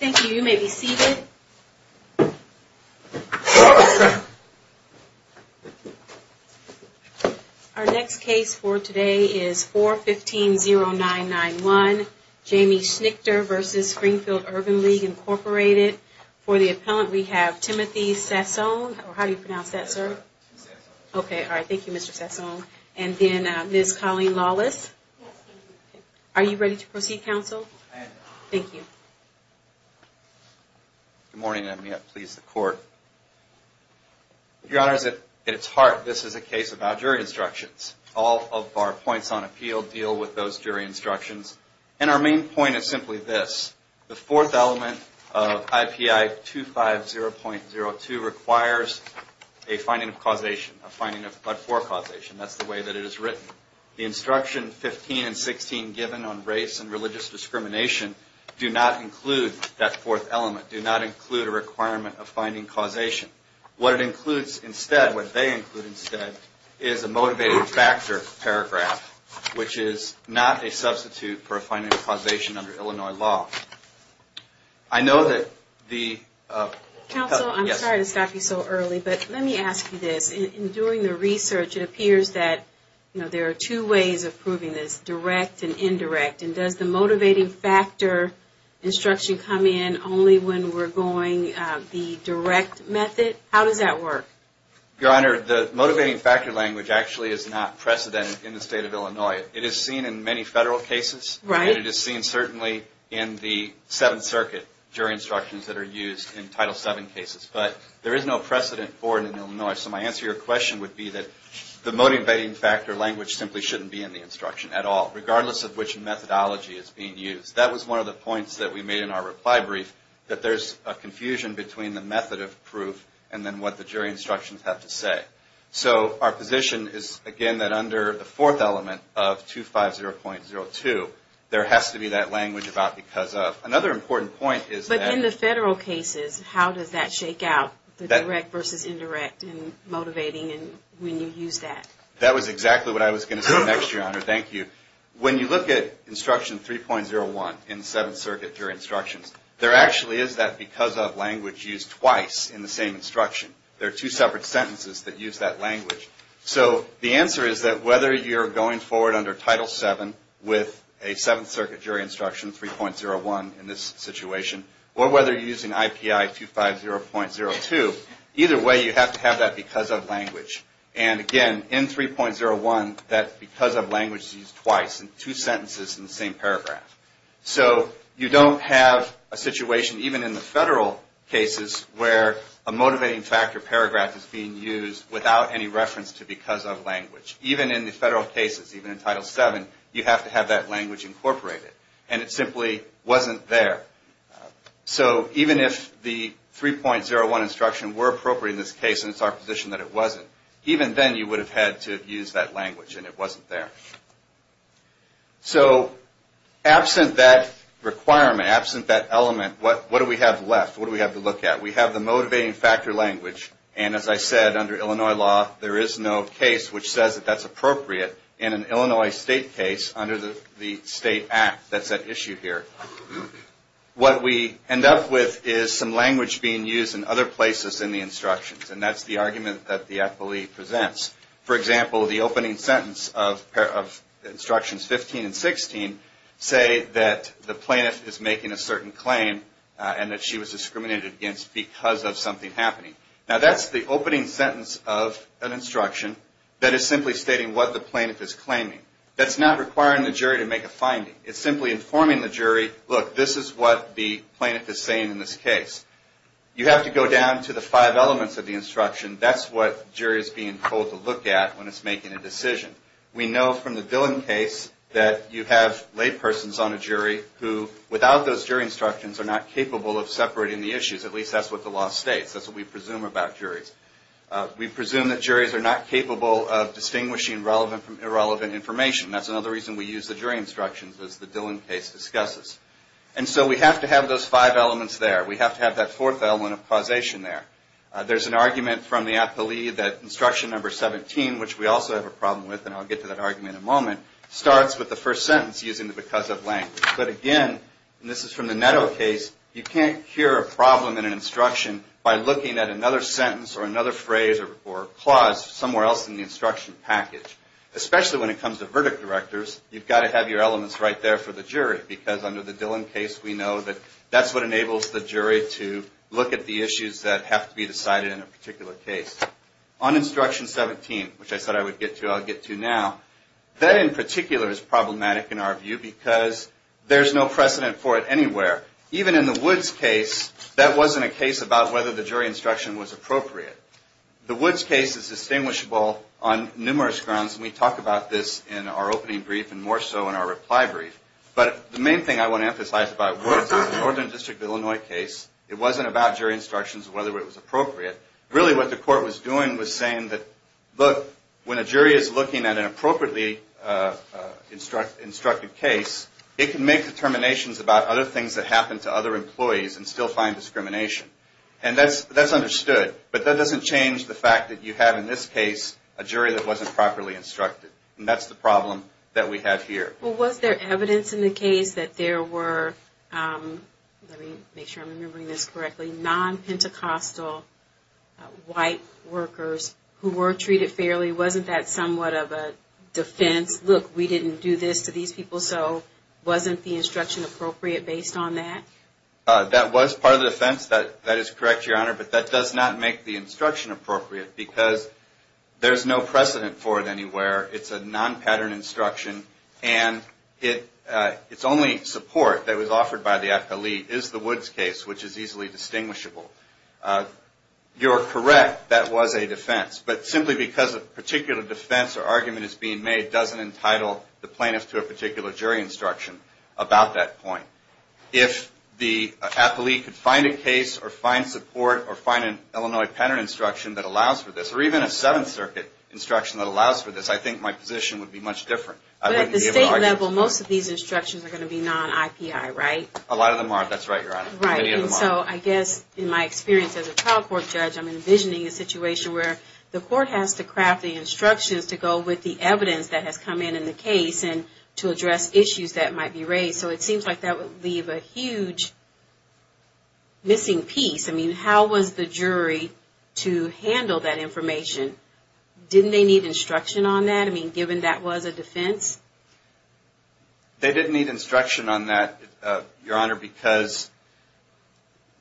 Thank you. You may be seated. Our next case for today is 4150991, Jamie Schnitker v. Springfield Urban League, Inc. For the appellant, we have Timothy Sassone, or how do you pronounce that, sir? Okay, all right. Thank you, Mr. Sassone. And then Ms. Colleen Lawless. Are you ready to proceed, counsel? Thank you. Good morning, and may it please the court. Your Honor, at its heart, this is a case about jury instructions. All of our points on appeal deal with those jury instructions. And our main point is simply this. The fourth element of IPI 250.02 requires a finding of causation. A finding of but-for causation. That's the way that it is written. The instruction 15 and 16 given on race and religious discrimination do not include that fourth element. Do not include a requirement of finding causation. What it includes instead, what they include instead, is a motivated factor paragraph, which is not a substitute for a finding of causation under Illinois law. I know that the... Counsel, I'm sorry to stop you so early, but let me ask you this. During the research, it appears that there are two ways of proving this, direct and indirect. And does the motivating factor instruction come in only when we're going the direct method? How does that work? Your Honor, the motivating factor language actually is not precedent in the state of Illinois. It is seen in many federal cases. And it is seen certainly in the Seventh Circuit jury instructions that are used in Title VII cases. But there is no precedent for it in Illinois. So my answer to your question would be that the motivating factor language simply shouldn't be in the instruction at all, that's what the instructions have to say. So our position is, again, that under the fourth element of 250.02, there has to be that language about because of. Another important point is that... But in the federal cases, how does that shake out, the direct versus indirect in motivating and when you use that? That was exactly what I was going to say next, Your Honor. Thank you. When you look at instruction 3.01 in the Seventh Circuit jury instructions, there actually is that because of language used twice in the same instruction. There are two separate sentences that use that language. So the answer is that whether you're going forward under Title VII with a Seventh Circuit jury instruction 3.01 in this situation, or whether you're using IPI 250.02, either way you have to have that because of language. And again, in 3.01, that because of language is used twice in two sentences in the same paragraph. So you don't have a situation, even in the federal cases, where a motivating factor paragraph is being used without any reference to because of language. Even in the federal cases, even in Title VII, you have to have that language incorporated. And it simply wasn't there. So even if the 3.01 instruction were appropriate in this case and it's our position that it wasn't, even then you would have had to have used that language and it wasn't there. So absent that requirement, absent that element, what do we have left? What do we have to look at? We have the motivating factor language and as I said, under Illinois law, there is no case which says that that's appropriate. In an Illinois state case, under the state act that's at issue here, what we end up with is some language being used in other places in the instructions. And that's the argument that the FLE presents. For example, the opening sentence of Instructions 15 and 16 say that the plaintiff is making a certain claim and that she was discriminated against because of something happening. Now that's the opening sentence of an instruction that is simply stating what the plaintiff is claiming. That's not requiring the jury to make a finding. It's simply informing the jury, look, this is what the plaintiff is saying in this case. You have to go down to the five elements of the instruction. That's what the jury is being told to look at when it's making a decision. We know from the Dillon case that you have laypersons on a jury who, without those jury instructions, are not capable of separating the issues. At least that's what the law states. That's what we presume about juries. We presume that juries are not capable of distinguishing relevant from irrelevant information. That's another reason we use the jury instructions as the Dillon case discusses. And so we have to have those five elements there. We have to have that fourth element of causation there. There's an argument from the appellee that Instruction 17, which we also have a problem with, and I'll get to that argument in a moment, starts with the first sentence using the because of language. But again, and this is from the Netto case, you can't cure a problem in an instruction by looking at another sentence or another phrase or clause somewhere else in the instruction package. Especially when it comes to verdict directors, you've got to have your elements right there for the jury because under the Dillon case, we know that that's what enables the jury to look at the issues that have to be decided in a particular case. On Instruction 17, which I said I would get to, I'll get to now, that in particular is problematic in our view because there's no precedent for it anywhere. Even in the Woods case, that wasn't a case about whether the jury instruction was appropriate. The Woods case is distinguishable on numerous grounds, and we talk about this in our opening brief and more so in our reply brief. But the main thing I want to emphasize about Woods is it's a Northern District of Illinois case. It wasn't about jury instructions or whether it was appropriate. Really what the court was doing was saying that, look, when a jury is looking at an appropriately instructed case, it can make determinations about other things that happen to other employees and still find discrimination. And that's understood, but that doesn't change the fact that you have in this case a jury that wasn't properly instructed. And that's the problem that we have here. Well, was there evidence in the case that there were, let me make sure I'm remembering this correctly, non-Pentecostal white workers who were treated fairly? Wasn't that somewhat of a defense? Look, we didn't do this to these people, and so wasn't the instruction appropriate based on that? That was part of the defense. That is correct, Your Honor, but that does not make the instruction appropriate, because there's no precedent for it anywhere. It's a non-pattern instruction, and its only support that was offered by the appellee is the Woods case, which is easily distinguishable. You're correct. That was a defense. But simply because a particular defense or argument is being made doesn't entitle the plaintiff to a particular jury instruction about that point. If the appellee could find a case or find support or find an Illinois pattern instruction that allows for this, or even a Seventh Circuit instruction that allows for this, I think my position would be much different. But at the state level, most of these instructions are going to be non-IPI, right? A lot of them are, that's right, Your Honor. Right, and so I guess in my experience as a trial court judge, I'm envisioning a situation where the court has to craft the instructions to go with the evidence that has come in in the case and to address issues that might be raised. So it seems like that would leave a huge missing piece. I mean, how was the jury to handle that information? Didn't they need instruction on that? I mean, given that was a defense? They didn't need instruction on that, Your Honor, because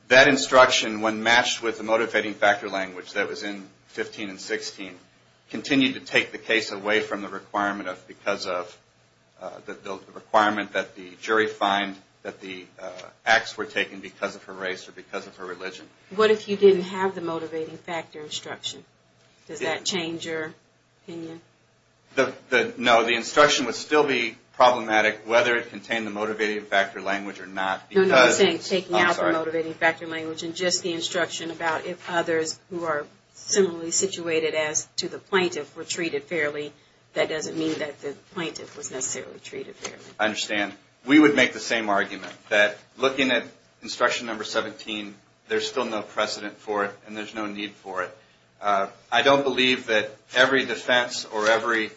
that instruction, when matched with the motivating factor language that was in 15 and 16, continued to take the case away from the requirement that the jury find that the acts were taken because of her race or because of her religion. What if you didn't have the motivating factor instruction? Does that change your opinion? No, the instruction would still be problematic, whether it contained the motivating factor language or not. No, no, I'm saying taking out the motivating factor language and just the instruction about if others who are similarly situated as to the plaintiff were treated fairly, that doesn't mean that the plaintiff was necessarily treated fairly. I understand. We would make the same argument that looking at instruction number 17, there's still no precedent for it and there's no need for it. I don't believe that every defense or every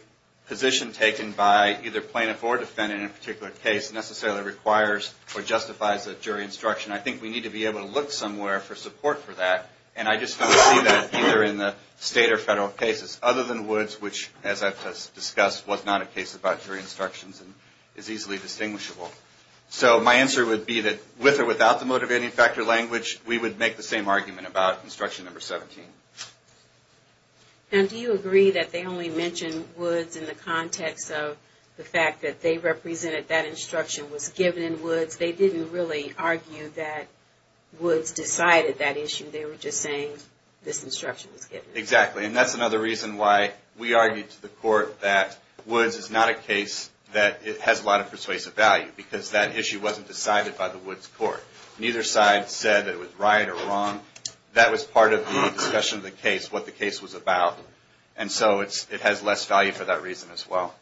position taken by either plaintiff or defendant in a particular case necessarily requires or justifies a jury instruction. I think we need to be able to look somewhere for support for that. And I just don't see that either in the state or federal cases other than Woods, which as I've discussed was not a case about jury instructions and is easily distinguishable. So my answer would be that with or without the motivating factor language, we would make the same argument about instruction number 17. And do you agree that they only mention Woods in the context of the fact that they represented that instruction was given in Woods? They didn't really argue that Woods decided that issue. They were just saying this instruction was given. Exactly. And that's another reason why we argued to the court that Woods is not a case that has a lot of persuasive value because that issue wasn't decided by the Woods court. Neither side said it was right or wrong. That was part of the discussion of the case, what the case was about. And so it has less value for that reason as well.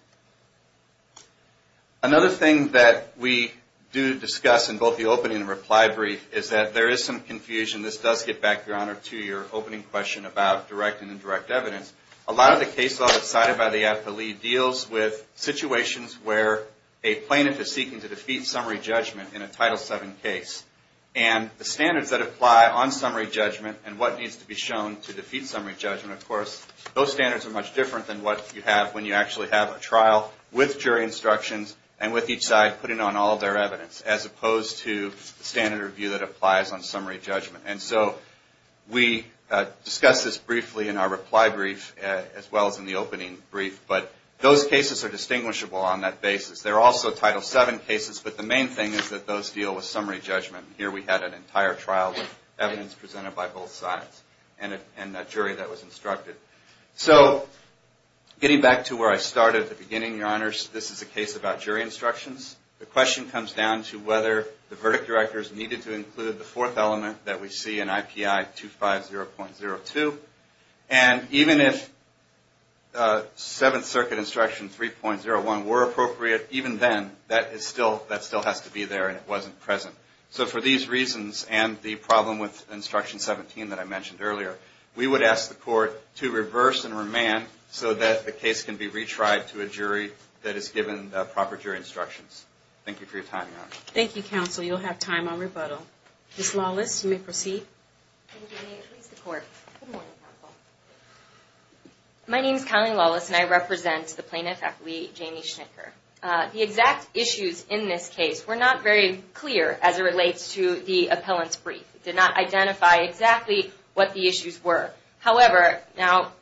Another thing that we do discuss in both the opening and reply brief is that there is some confusion. This does get back, Your Honor, to your opening question about direct and indirect evidence. A lot of the cases that are decided by the affilee deals with situations where a plaintiff is seeking to defeat summary judgment in a Title VII case. And the standards that apply on summary judgment and what needs to be shown to defeat summary judgment, of course, those standards are much different than what you have when you actually have a trial with jury instructions and with each side putting on all of their evidence as opposed to the standard review that applies on summary judgment. And so we discuss this briefly in our reply brief as well as in the opening brief. But those cases are distinguishable on that basis. They're also Title VII cases, but the main thing is that those deal with summary judgment. Here we had an entire trial with evidence presented by both sides and a jury that was instructed. So getting back to where I started at the beginning, Your Honors, this is a case about jury instructions. The question comes down to whether the verdict directors needed to include the fourth element that we see in IPI 250.02. And even if Seventh Circuit Instruction 3.01 were appropriate, even then, that still has to be there and it wasn't present. So for these reasons and the problem with Instruction 17 that I mentioned earlier, we would ask the Court to reverse and remand so that the case can be retried to a jury that is given proper jury instructions. Thank you for your time, Your Honors. Thank you, Counsel. You'll have time on rebuttal. Ms. Lawless, you may proceed. Thank you. May it please the Court. Good morning, Counsel. My name is Kylie Lawless and I represent the plaintiff, Appellee Jamie Schnicker. The exact issues in this case were not very clear as it relates to the appellant's brief. It did not identify exactly what the issues were. However, now,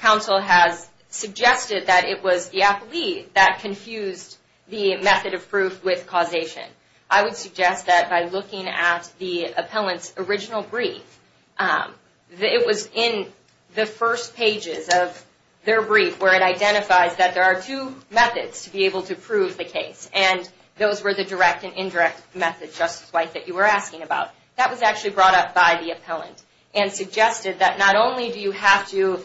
Counsel has suggested that it was the appellee that confused the method of proof with causation. I would suggest that by looking at the appellant's original brief, it was in the first pages of their brief where it identifies that there are two methods to be able to prove the case. And those were the direct and indirect methods, Justice White, that you were asking about. That was actually brought up by the appellant and suggested that not only do you have to do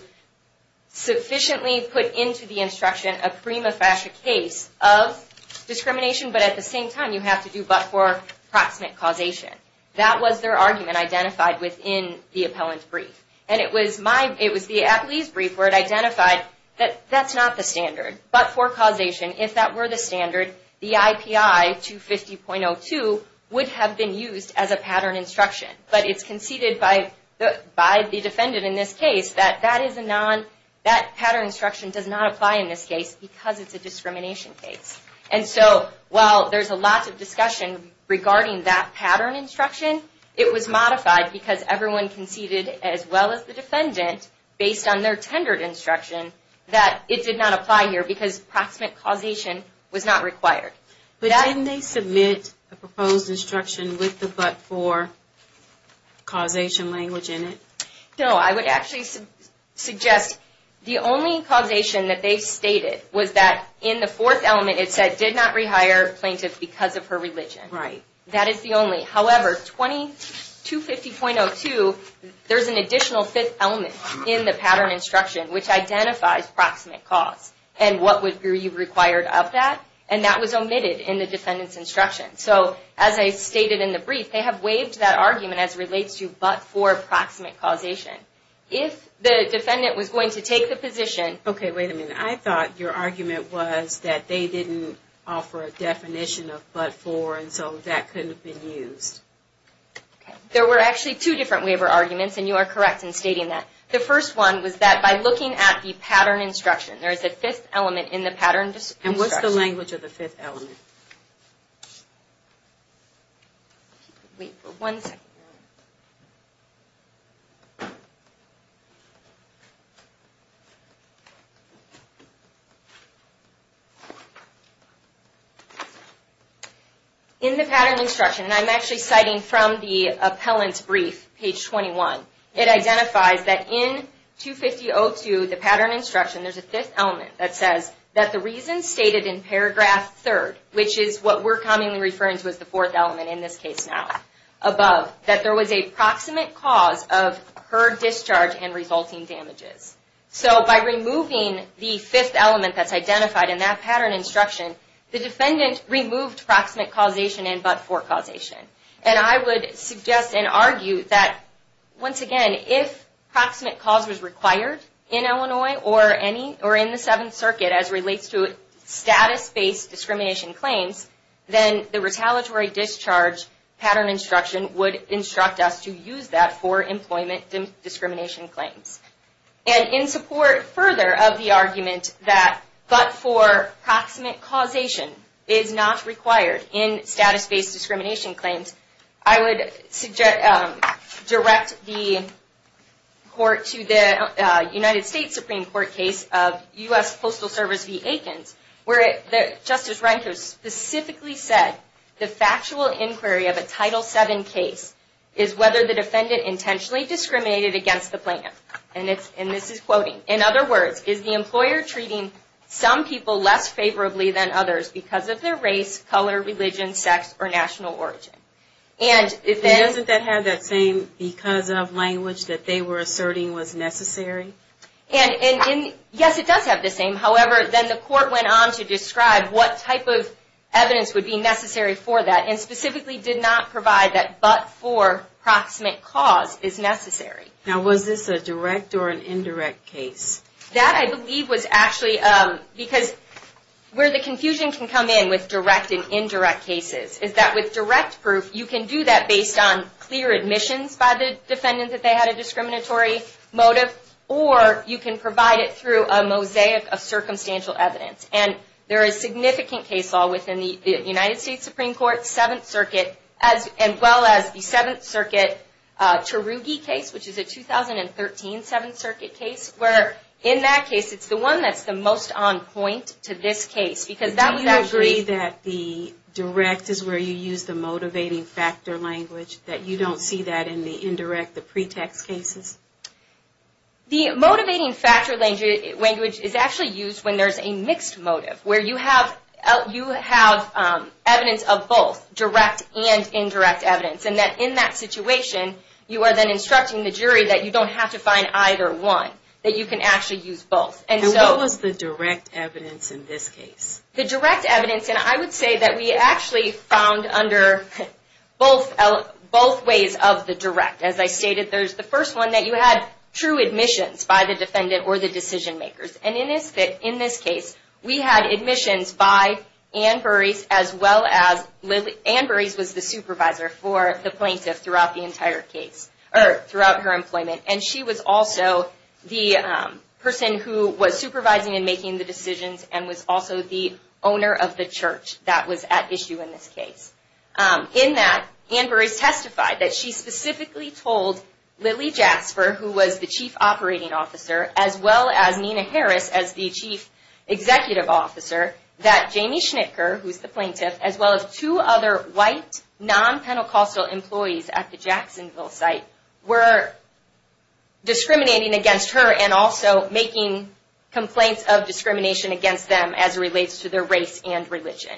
but for proximate causation. That was their argument identified within the appellant's brief. And it was the appellee's brief where it identified that that's not the standard. But for causation, if that were the standard, the IPI 250.02 would have been used as a pattern instruction. But it's conceded by the defendant in this case that that pattern instruction does not apply in this case because it's a discrimination case. And so, while there's a lot of discussion regarding that pattern instruction, it was modified because everyone conceded, as well as the defendant, based on their tendered instruction, that it did not apply here because proximate causation was not required. But didn't they submit a proposed instruction with the but-for causation language in it? No, I would actually suggest the only causation that they stated was that in the fourth element it said, did not rehire plaintiff because of her religion. That is the only. However, 250.02, there's an additional fifth element in the pattern instruction which identifies proximate cause. And what would be required of that? And that was omitted in the defendant's instruction. So, as I stated in the brief, they have waived that argument as relates to but-for proximate causation. If the defendant was going to take the position... Okay, wait a minute. I thought your argument was that they didn't offer a definition of but-for and so that couldn't have been used. There were actually two different waiver arguments, and you are correct in stating that. The first one was that by looking at the pattern instruction, there is a fifth element in the pattern instruction. And what's the language of the fifth element? In the pattern instruction, and I'm actually citing from the appellant's brief, page 21, it identifies that in 250.02, the pattern instruction, there's a fifth element that says that the reason stated in paragraph 3rd, which is what we're commonly referring to as the fourth element in this case now, above, that there was a proximate cause of her discharge and resulting damages. So, by removing the fifth element that's identified in that pattern instruction, the defendant removed proximate causation and but-for causation. And I would suggest and argue that, once again, if proximate cause was required in Illinois or in the Seventh Circuit as relates to status-based discrimination claims, then the retaliatory discharge pattern instruction would instruct us to use that for employment discrimination claims. And in support further of the argument that but-for proximate causation is not required in status-based discrimination claims, I would direct the court to the United States Supreme Court case of U.S. Postal Service v. Aikens, where Justice Rehnquist specifically said the factual inquiry of a Title VII case is whether the defendant intentionally discriminated against the plan. And this is quoting, in other words, is the employer treating some people less favorably than others because of their race, color, religion, sex, or national origin. And then... And doesn't that have that same because of language that they were asserting was necessary? Yes, it does have the same. However, then the court went on to describe what type of evidence would be necessary for that and specifically did not provide that but-for proximate cause is necessary. Now, was this a direct or an indirect case? That, I believe, was actually because where the confusion can come in with direct and indirect cases is that with direct proof, you can do that based on clear admissions by the defendant that they had a discriminatory motive or you can provide it through a mosaic of circumstantial evidence. And there is significant case law within the United States Supreme Court, Seventh Circuit, as well as the Seventh Circuit Tarugi case, which is a 2013 Seventh Circuit case, where in that case, it's the one that's the most on point to this case because that would actually... Do you agree that the direct is where you use the motivating factor language, that you don't see that in the indirect, the pretext cases? The motivating factor language is actually used when there's a mixed motive, where you have evidence of both, direct and indirect evidence. And in that situation, you are then instructing the jury that you don't have to find either one, that you can actually use both. And what was the direct evidence in this case? The direct evidence, and I would say that we actually found under both ways of the direct. As I stated, there's the first one that you had true admissions by the defendant or the decision makers. And in this case, we had admissions by Anne Burys was the supervisor for the plaintiff throughout the entire case, or throughout her employment. And she was also the person who was supervising and making the decisions and was also the owner of the church that was at issue in this case. In that, Anne Burys testified that she specifically told Lily Jasper, who was the chief operating officer, as well as Nina Harris as the chief executive officer, that her other white, non-Pentecostal employees at the Jacksonville site were discriminating against her and also making complaints of discrimination against them as it relates to their race and religion.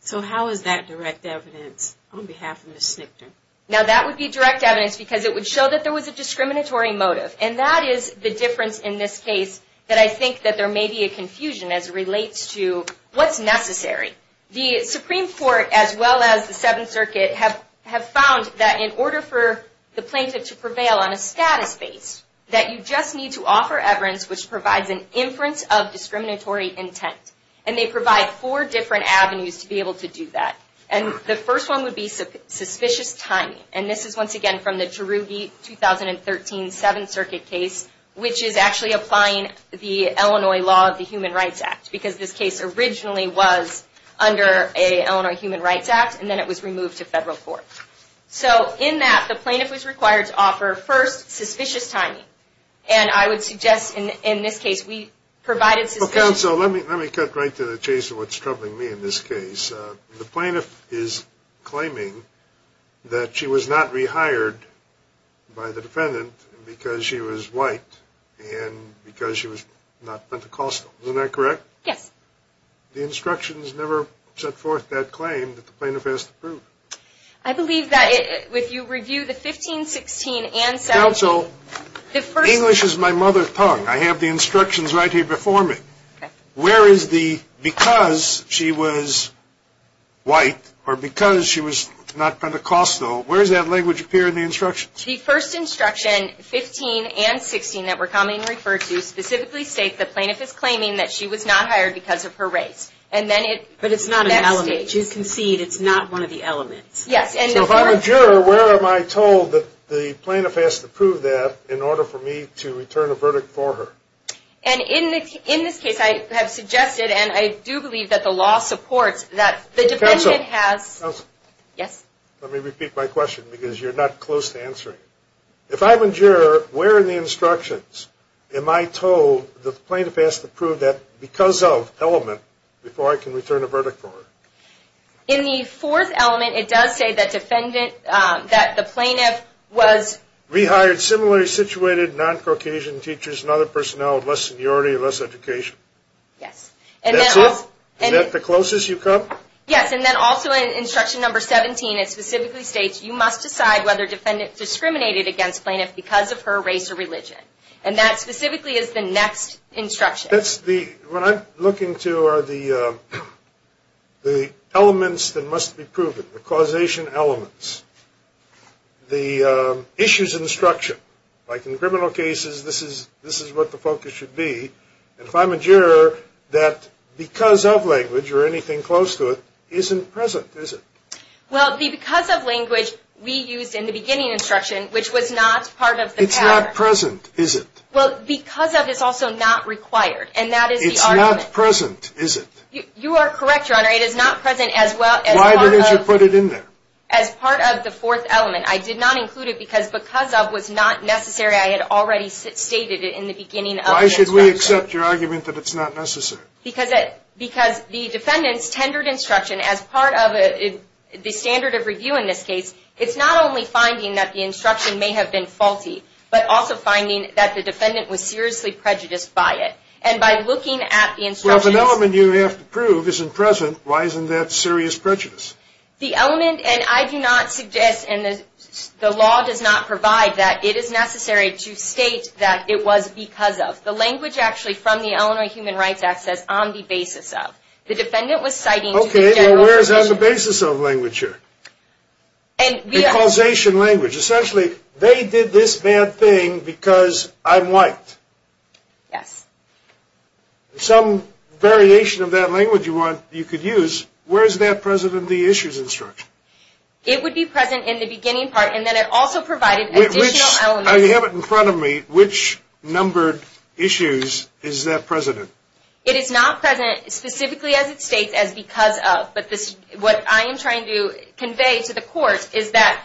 So how is that direct evidence on behalf of Ms. Snichter? Now that would be direct evidence because it would show that there was a discriminatory motive. And that is the difference in this case that I think that there may be a confusion as it relates to what's necessary. The Supreme Court, as well as the Seventh Circuit, have found that in order for the plaintiff to prevail on a status base, that you just need to offer evidence which provides an inference of discriminatory intent. And they provide four different avenues to be able to do that. And the first one would be suspicious timing. And this is, once again, from the Cherokee 2013 Seventh Circuit case, which is actually applying the Illinois law of the Human Rights Act because this case originally was under an Illinois Human Rights Act and then it was removed to federal court. So in that, the plaintiff was required to offer, first, suspicious timing. And I would suggest in this case we provided suspicious timing. Well, counsel, let me cut right to the chase of what's troubling me in this case. The plaintiff is claiming that she was not rehired by the defendant because she was white and because she was not Pentecostal. Isn't that correct? Yes. The instructions never set forth that claim that the plaintiff has to prove. I believe that if you review the 15, 16, and 17. Counsel, English is my mother tongue. I have the instructions right here before me. Okay. Where is the, because she was white or because she was not Pentecostal, where does that language appear in the instructions? The first instruction, 15 and 16, that we're commonly referred to specifically state the plaintiff is claiming that she was not hired because of her race. But it's not an element. You can see it's not one of the elements. Yes. So if I'm a juror, where am I told that the plaintiff has to prove that in order for me to return a verdict for her? And in this case, I have suggested and I do believe that the law supports that the defendant has. Counsel. Yes. Let me repeat my question because you're not close to answering it. If I'm a juror, the plaintiff has to prove that because of element before I can return a verdict for her. In the fourth element, it does say that defendant, that the plaintiff was. Rehired similarly situated non-Caucasian teachers and other personnel with less seniority, less education. Yes. That's it? And then. Is that the closest you come? Yes. And then also in instruction number 17, it specifically states you must decide whether defendant discriminated against plaintiff because of her race or That's the. What I'm looking to are the elements that must be proven, the causation elements. The issues in instruction, like in criminal cases, this is what the focus should be. And if I'm a juror, that because of language or anything close to it isn't present, is it? Well, because of language we used in the beginning instruction, which was not part of the pattern. It's not present, is it? Well, because of is also not required. And that is the argument. It's not present, is it? You are correct, Your Honor. It is not present as well as part of. Why did you put it in there? As part of the fourth element. I did not include it because because of was not necessary. I had already stated it in the beginning of the instruction. Why should we accept your argument that it's not necessary? Because the defendant's tendered instruction as part of the standard of review in this case, it's not only finding that the instruction may have been faulty, but also finding that the defendant was seriously prejudiced by it. And by looking at the instructions. Well, if an element you have to prove isn't present, why isn't that serious prejudice? The element, and I do not suggest, and the law does not provide that it is necessary to state that it was because of. The language actually from the Illinois Human Rights Act says on the basis of. The defendant was citing. Okay. Well, where is on the basis of language here? The causation language. Essentially, they did this bad thing because I'm white. Yes. Some variation of that language you could use. Where is that present in the issues instruction? It would be present in the beginning part, and then it also provided additional elements. I have it in front of me. Which numbered issues is that present in? It is not present specifically as it states as because of. But what I am trying to convey to the court is that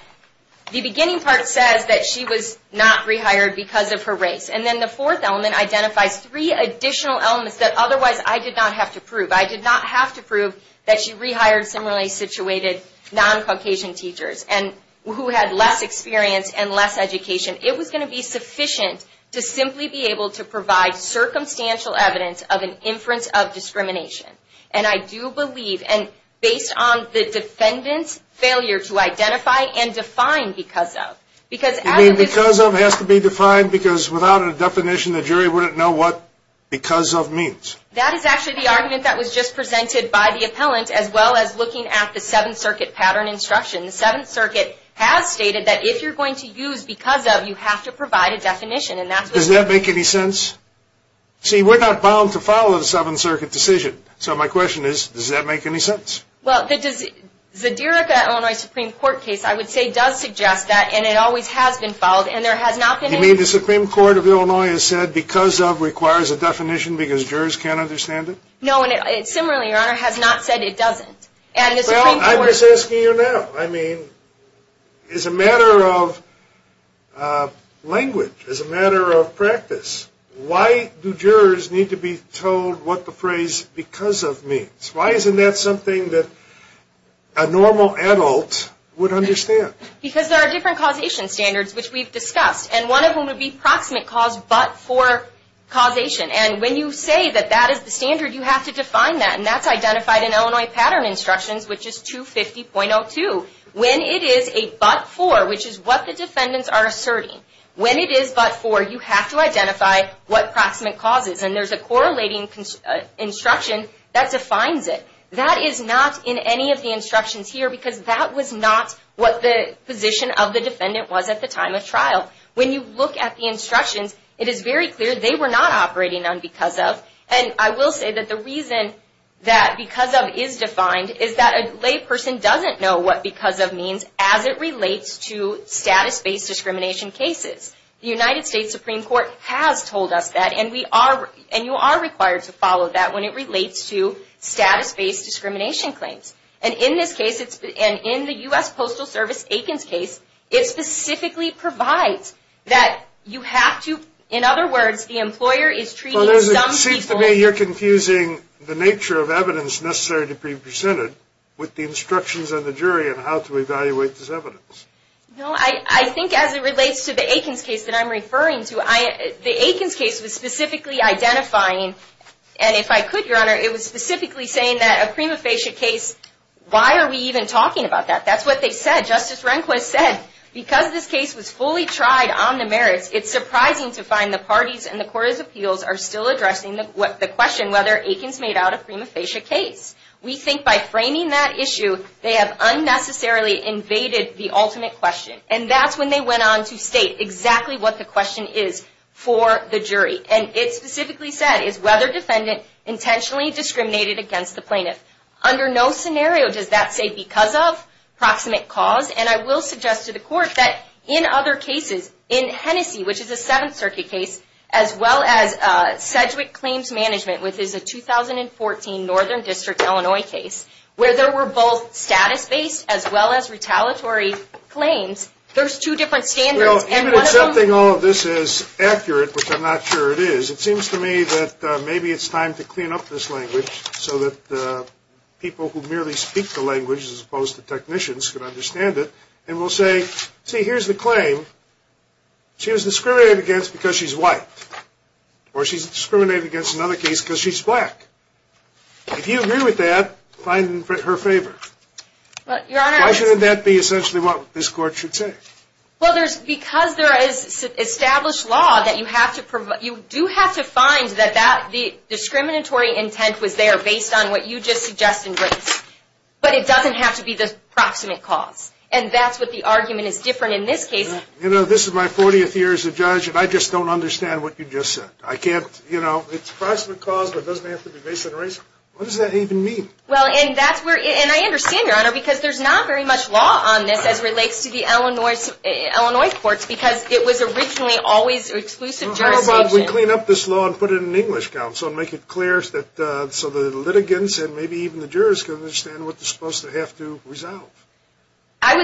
the beginning part says that she was not rehired because of her race. And then the fourth element identifies three additional elements that otherwise I did not have to prove. I did not have to prove that she rehired similarly situated non-Caucasian teachers. And who had less experience and less education. It was going to be sufficient to simply be able to provide circumstantial evidence of an inference of discrimination. And I do believe, and based on the defendant's failure to identify and define because of. You mean because of has to be defined because without a definition the jury wouldn't know what because of means? That is actually the argument that was just presented by the appellant as well as looking at the Seventh Circuit pattern instruction. The Seventh Circuit has stated that if you're going to use because of, you have to provide a definition. Does that make any sense? See, we're not bound to follow the Seventh Circuit decision. So my question is, does that make any sense? Well, the Zadirica, Illinois Supreme Court case I would say does suggest that and it always has been followed and there has not been any. You mean the Supreme Court of Illinois has said because of requires a definition because jurors can't understand it? No, and similarly, Your Honor, has not said it doesn't. Well, I'm just asking you now. I mean, it's a matter of language. It's a matter of practice. Why do jurors need to be told what the phrase because of means? Why isn't that something that a normal adult would understand? Because there are different causation standards, which we've discussed, and one of them would be proximate cause but for causation. And when you say that that is the standard, you have to define that, and that's identified in Illinois pattern instructions, which is 250.02. When it is a but for, which is what the defendants are asserting, when it is but for, you have to identify what proximate cause is, and there's a correlating instruction that defines it. That is not in any of the instructions here because that was not what the position of the defendant was at the time of trial. When you look at the instructions, it is very clear they were not operating on because of, and I will say that the reason that because of is defined is that a lay person doesn't know what because of means as it relates to status-based discrimination cases. The United States Supreme Court has told us that, and you are required to follow that when it relates to status-based discrimination claims. And in this case, and in the U.S. Postal Service Aikens case, it specifically provides that you have to, in other words, the employer is treating some people. Well, it seems to me you're confusing the nature of evidence necessary to be presented with the instructions of the jury on how to evaluate this evidence. No. I think as it relates to the Aikens case that I'm referring to, the Aikens case was specifically identifying, and if I could, Your Honor, it was specifically saying that a prima facie case, why are we even talking about that? That's what they said. Justice Rehnquist said, because this case was fully tried on the merits, it's surprising to find the parties and the court of appeals are still addressing the question whether Aikens made out a prima facie case. We think by framing that issue, they have unnecessarily invaded the ultimate question. And that's when they went on to state exactly what the question is for the jury. And it specifically said, is whether defendant intentionally discriminated against the plaintiff? Under no scenario does that say because of proximate cause. And I will suggest to the court that in other cases, in Hennessy, which is a Seventh Circuit case, as well as Sedgwick Claims Management, which is a 2014 Northern District, Illinois case, where there were both status-based as well as retaliatory claims, there's two different standards. Even accepting all of this as accurate, which I'm not sure it is, it seems to me that maybe it's time to clean up this language so that people who merely speak the language, as opposed to technicians, could understand it. And we'll say, see, here's the claim. She was discriminated against because she's white. Or she's discriminated against in another case because she's black. If you agree with that, find her favor. Why should that be essentially what this court should say? Well, because there is established law that you do have to find that the discriminatory intent was there based on what you just suggested, but it doesn't have to be the proximate cause. And that's what the argument is different in this case. You know, this is my 40th year as a judge, and I just don't understand what you just said. I can't, you know, it's proximate cause, but it doesn't have to be based on race. What does that even mean? Well, and I understand, Your Honor, because there's not very much law on this as relates to the Illinois courts because it was originally always exclusive jurisdiction. How about we clean up this law and put it in an English counsel and make it clear so the litigants and maybe even the jurors can understand what they're supposed to have to resolve? I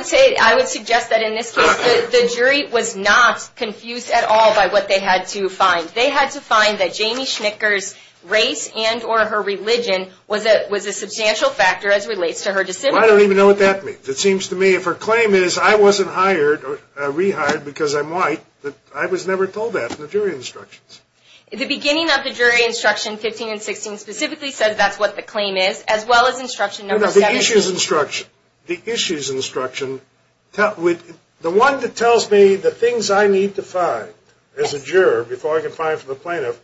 would suggest that in this case the jury was not confused at all by what they had to find. They had to find that Jamie Schnicker's race and or her religion was a substantial factor as relates to her dissent. Well, I don't even know what that means. It seems to me if her claim is I wasn't hired or rehired because I'm white, I was never told that in the jury instructions. The beginning of the jury instruction 15 and 16 specifically says that's what the claim is, as well as instruction number 17. No, no, the issues instruction. The issues instruction, the one that tells me the things I need to find as a plaintiff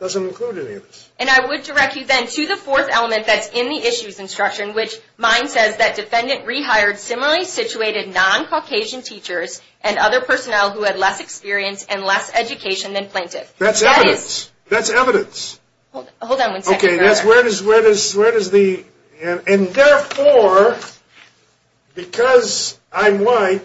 doesn't include any of this. And I would direct you then to the fourth element that's in the issues instruction which mine says that defendant rehired similarly situated non-Caucasian teachers and other personnel who had less experience and less education than plaintiff. That's evidence. That's evidence. Hold on one second, Your Honor. Okay, that's where does the, and therefore because I'm white,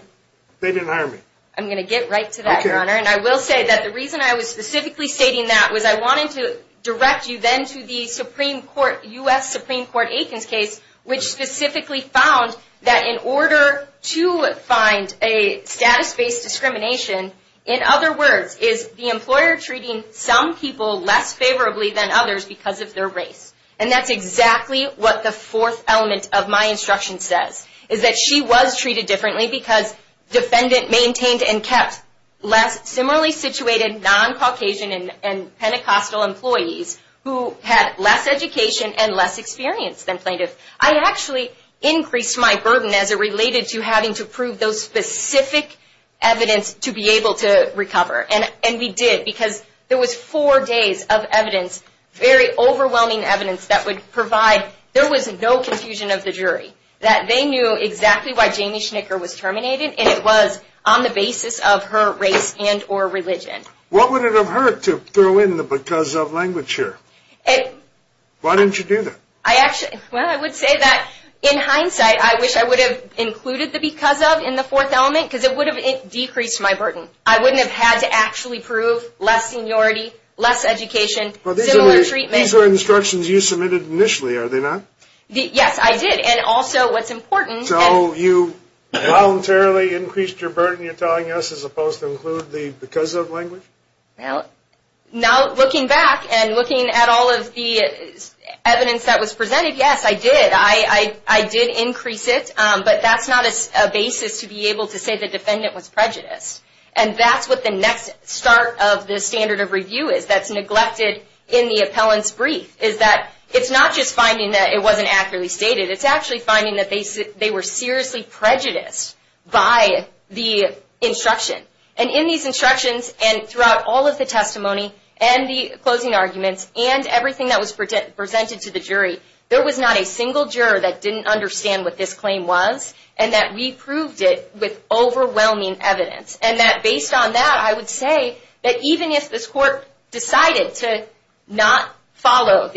they didn't hire me. I'm going to get right to that, Your Honor. And I will say that the reason I was specifically stating that was I wanted to direct you then to the Supreme Court, U.S. Supreme Court Aikens case, which specifically found that in order to find a status-based discrimination, in other words, is the employer treating some people less favorably than others because of their race. And that's exactly what the fourth element of my instruction says, is that she was treated differently because defendant maintained and kept less similarly situated non-Caucasian and Pentecostal employees who had less education and less experience than plaintiff. I actually increased my burden as it related to having to prove those specific evidence to be able to recover. And we did because there was four days of evidence, very overwhelming evidence that would provide there was no confusion of the jury, that they knew exactly why Jamie Schnicker was terminated, and it was on the basis of her race and or religion. What would it have hurt to throw in the because of language here? Why didn't you do that? Well, I would say that in hindsight, I wish I would have included the because of in the fourth element because it would have decreased my burden. I wouldn't have had to actually prove less seniority, less education, similar treatment. These are instructions you submitted initially, are they not? Yes, I did. And also what's important. So you voluntarily increased your burden you're telling us as opposed to include the because of language? Now looking back and looking at all of the evidence that was presented, yes, I did. I did increase it, but that's not a basis to be able to say the defendant was prejudiced. And that's what the next start of the standard of review is that's neglected in the wasn't accurately stated. It's actually finding that they were seriously prejudiced by the instruction. And in these instructions and throughout all of the testimony and the closing arguments and everything that was presented to the jury, there was not a single juror that didn't understand what this claim was and that we proved it with overwhelming evidence. And that based on that, I would say that even if this court decided to not follow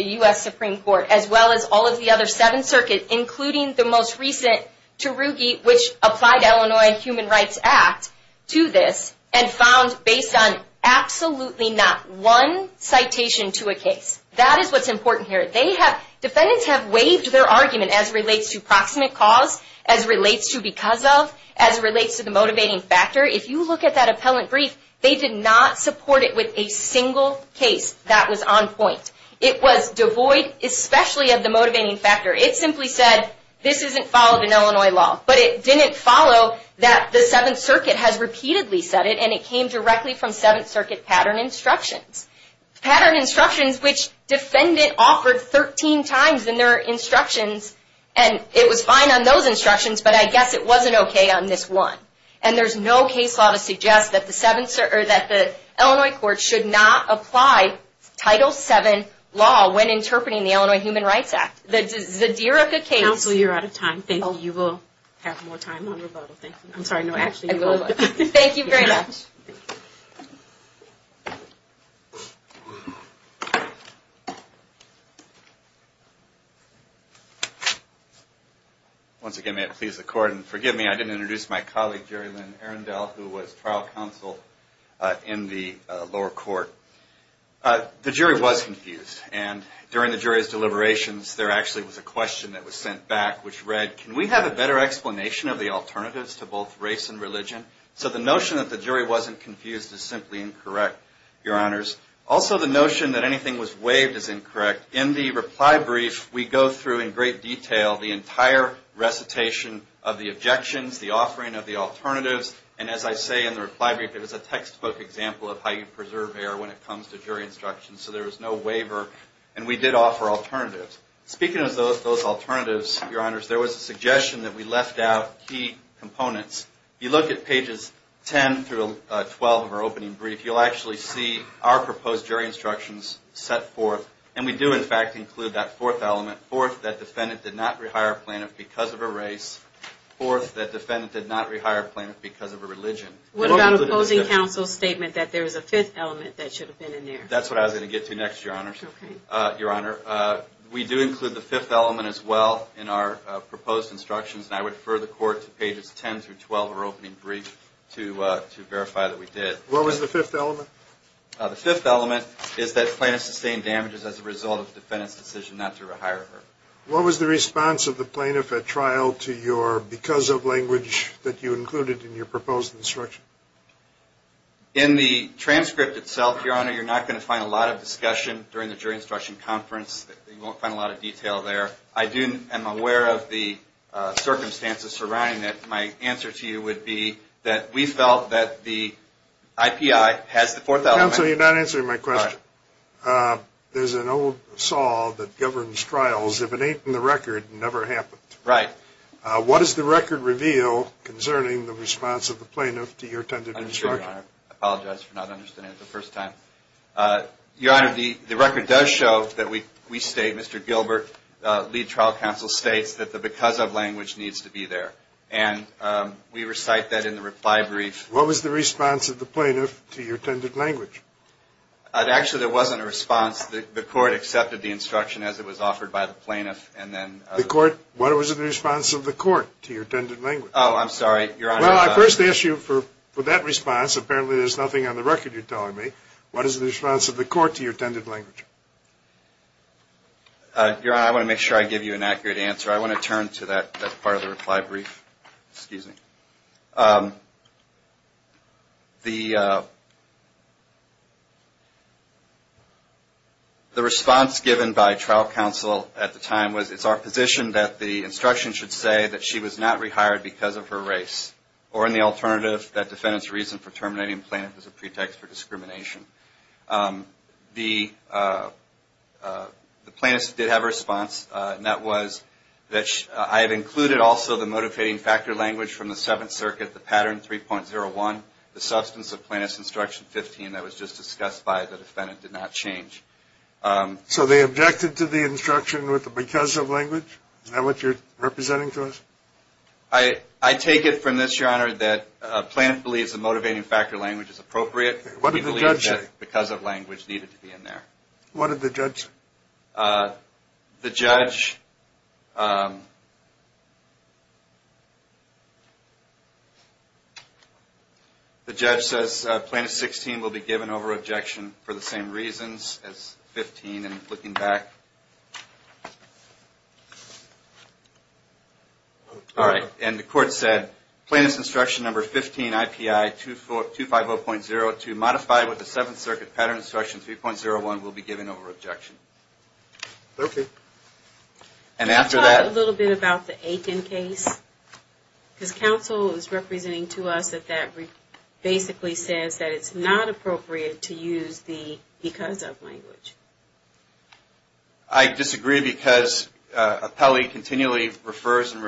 the other seven circuits, including the most recent Tarugi, which applied Illinois Human Rights Act to this and found based on absolutely not one citation to a case. That is what's important here. Defendants have waived their argument as relates to proximate cause, as relates to because of, as relates to the motivating factor. If you look at that appellant brief, they did not support it with a single case that was on point. It was devoid especially of the motivating factor. It simply said, this isn't followed in Illinois law. But it didn't follow that the Seventh Circuit has repeatedly said it and it came directly from Seventh Circuit pattern instructions. Pattern instructions which defendant offered 13 times in their instructions and it was fine on those instructions, but I guess it wasn't okay on this one. And there's no case law to suggest that the Illinois court should not apply Title VII law when interpreting the Illinois Human Rights Act. The Zadirica case... Counsel, you're out of time. Thank you. You will have more time on rebuttal. Thank you. I'm sorry. No, actually you will. Thank you very much. Once again, may it please the Court. And forgive me, I didn't introduce my colleague, Jerry Lynn Arundel, who was trial counsel in the lower court. The jury was confused and during the jury's deliberations, there actually was a question that was sent back which read, can we have a better explanation of the alternatives to both race and religion? So the notion that the jury wasn't confused is simply incorrect, Your Honors. Also, the notion that anything was waived is incorrect. In the reply brief, we go through in great detail the entire recitation of the objections, the offering of the alternatives. And as I say in the reply brief, it was a textbook example of how you preserve error when it comes to jury instructions. So there was no waiver and we did offer alternatives. Speaking of those alternatives, Your Honors, there was a suggestion that we left out key components. If you look at pages 10 through 12 of our opening brief, you'll actually see our proposed jury instructions set forth. And we do, in fact, include that fourth element. Fourth, that defendant did not rehire plaintiff because of a race. Fourth, that defendant did not rehire plaintiff because of a religion. What about the opposing counsel's statement that there was a fifth element that should have been in there? That's what I was going to get to next, Your Honors. Okay. Your Honor, we do include the fifth element as well in our proposed instructions. And I would refer the court to pages 10 through 12 of our opening brief to verify that we did. What was the fifth element? The fifth element is that plaintiff sustained damages as a result of the defendant's decision not to rehire her. What was the response of the plaintiff at trial to your because of language that you included in your proposed instruction? In the transcript itself, Your Honor, you're not going to find a lot of discussion during the jury instruction conference. You won't find a lot of detail there. I am aware of the circumstances surrounding it. My answer to you would be that we felt that the IPI has the fourth element. Counsel, you're not answering my question. There's an old saw that governs trials. If it ain't in the record, it never happened. Right. What does the record reveal concerning the response of the plaintiff to your intended instruction? I'm sorry, Your Honor. I apologize for not understanding it the first time. Your Honor, the record does show that we state, Mr. Gilbert, lead trial counsel states that the because of language needs to be there. And we recite that in the reply brief. What was the response of the plaintiff to your intended language? Actually, there wasn't a response. The court accepted the instruction as it was offered by the plaintiff. What was the response of the court to your intended language? Oh, I'm sorry. Well, I first asked you for that response. Apparently, there's nothing on the record you're telling me. What is the response of the court to your intended language? Your Honor, I want to make sure I give you an accurate answer. I want to turn to that part of the reply brief. Excuse me. The response given by trial counsel at the time was, it's our position that the instruction should say that she was not rehired because of her race. Or in the alternative, that defendant's reason for terminating the plaintiff is a pretext for discrimination. The plaintiff did have a response, and that was that I have included also the motivating factor language from the Seventh Circuit, the pattern 3.01, the substance of plaintiff's instruction 15 that was just discussed by the defendant, did not change. So they objected to the instruction with the because of language? Is that what you're representing to us? I take it from this, Your Honor, that a plaintiff believes the motivating factor language is appropriate. What did the judge say? Because of language needed to be in there. What did the judge say? The judge says Plaintiff 16 will be given over objection for the same reasons as 15. All right. And the court said, Plaintiff's instruction number 15, IPI 250.02, modified with the Seventh Circuit pattern instruction 3.01, will be given over objection. Okay. And after that... Can you talk a little bit about the Aiken case? Because counsel is representing to us that that basically says that it's not appropriate to use the because of language. I disagree because appellee continually refers and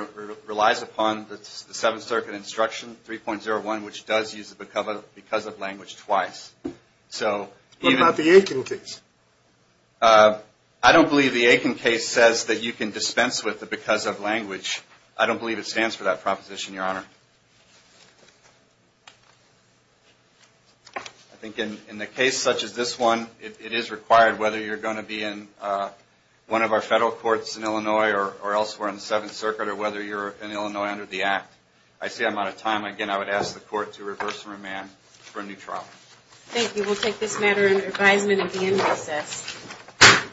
relies upon the Seventh Circuit instruction 3.01, which does use the because of language twice. So even... What about the Aiken case? I don't believe the Aiken case says that you can dispense with the because of language. I don't believe it stands for that proposition, Your Honor. I think in a case such as this one, it is required whether you're going to be in one of our federal courts in Illinois or elsewhere in the Seventh Circuit or whether you're in Illinois under the Act. I see I'm out of time. Again, I would ask the court to reverse and remand for a new trial. Thank you. We'll take this matter under advisement at the end of the process.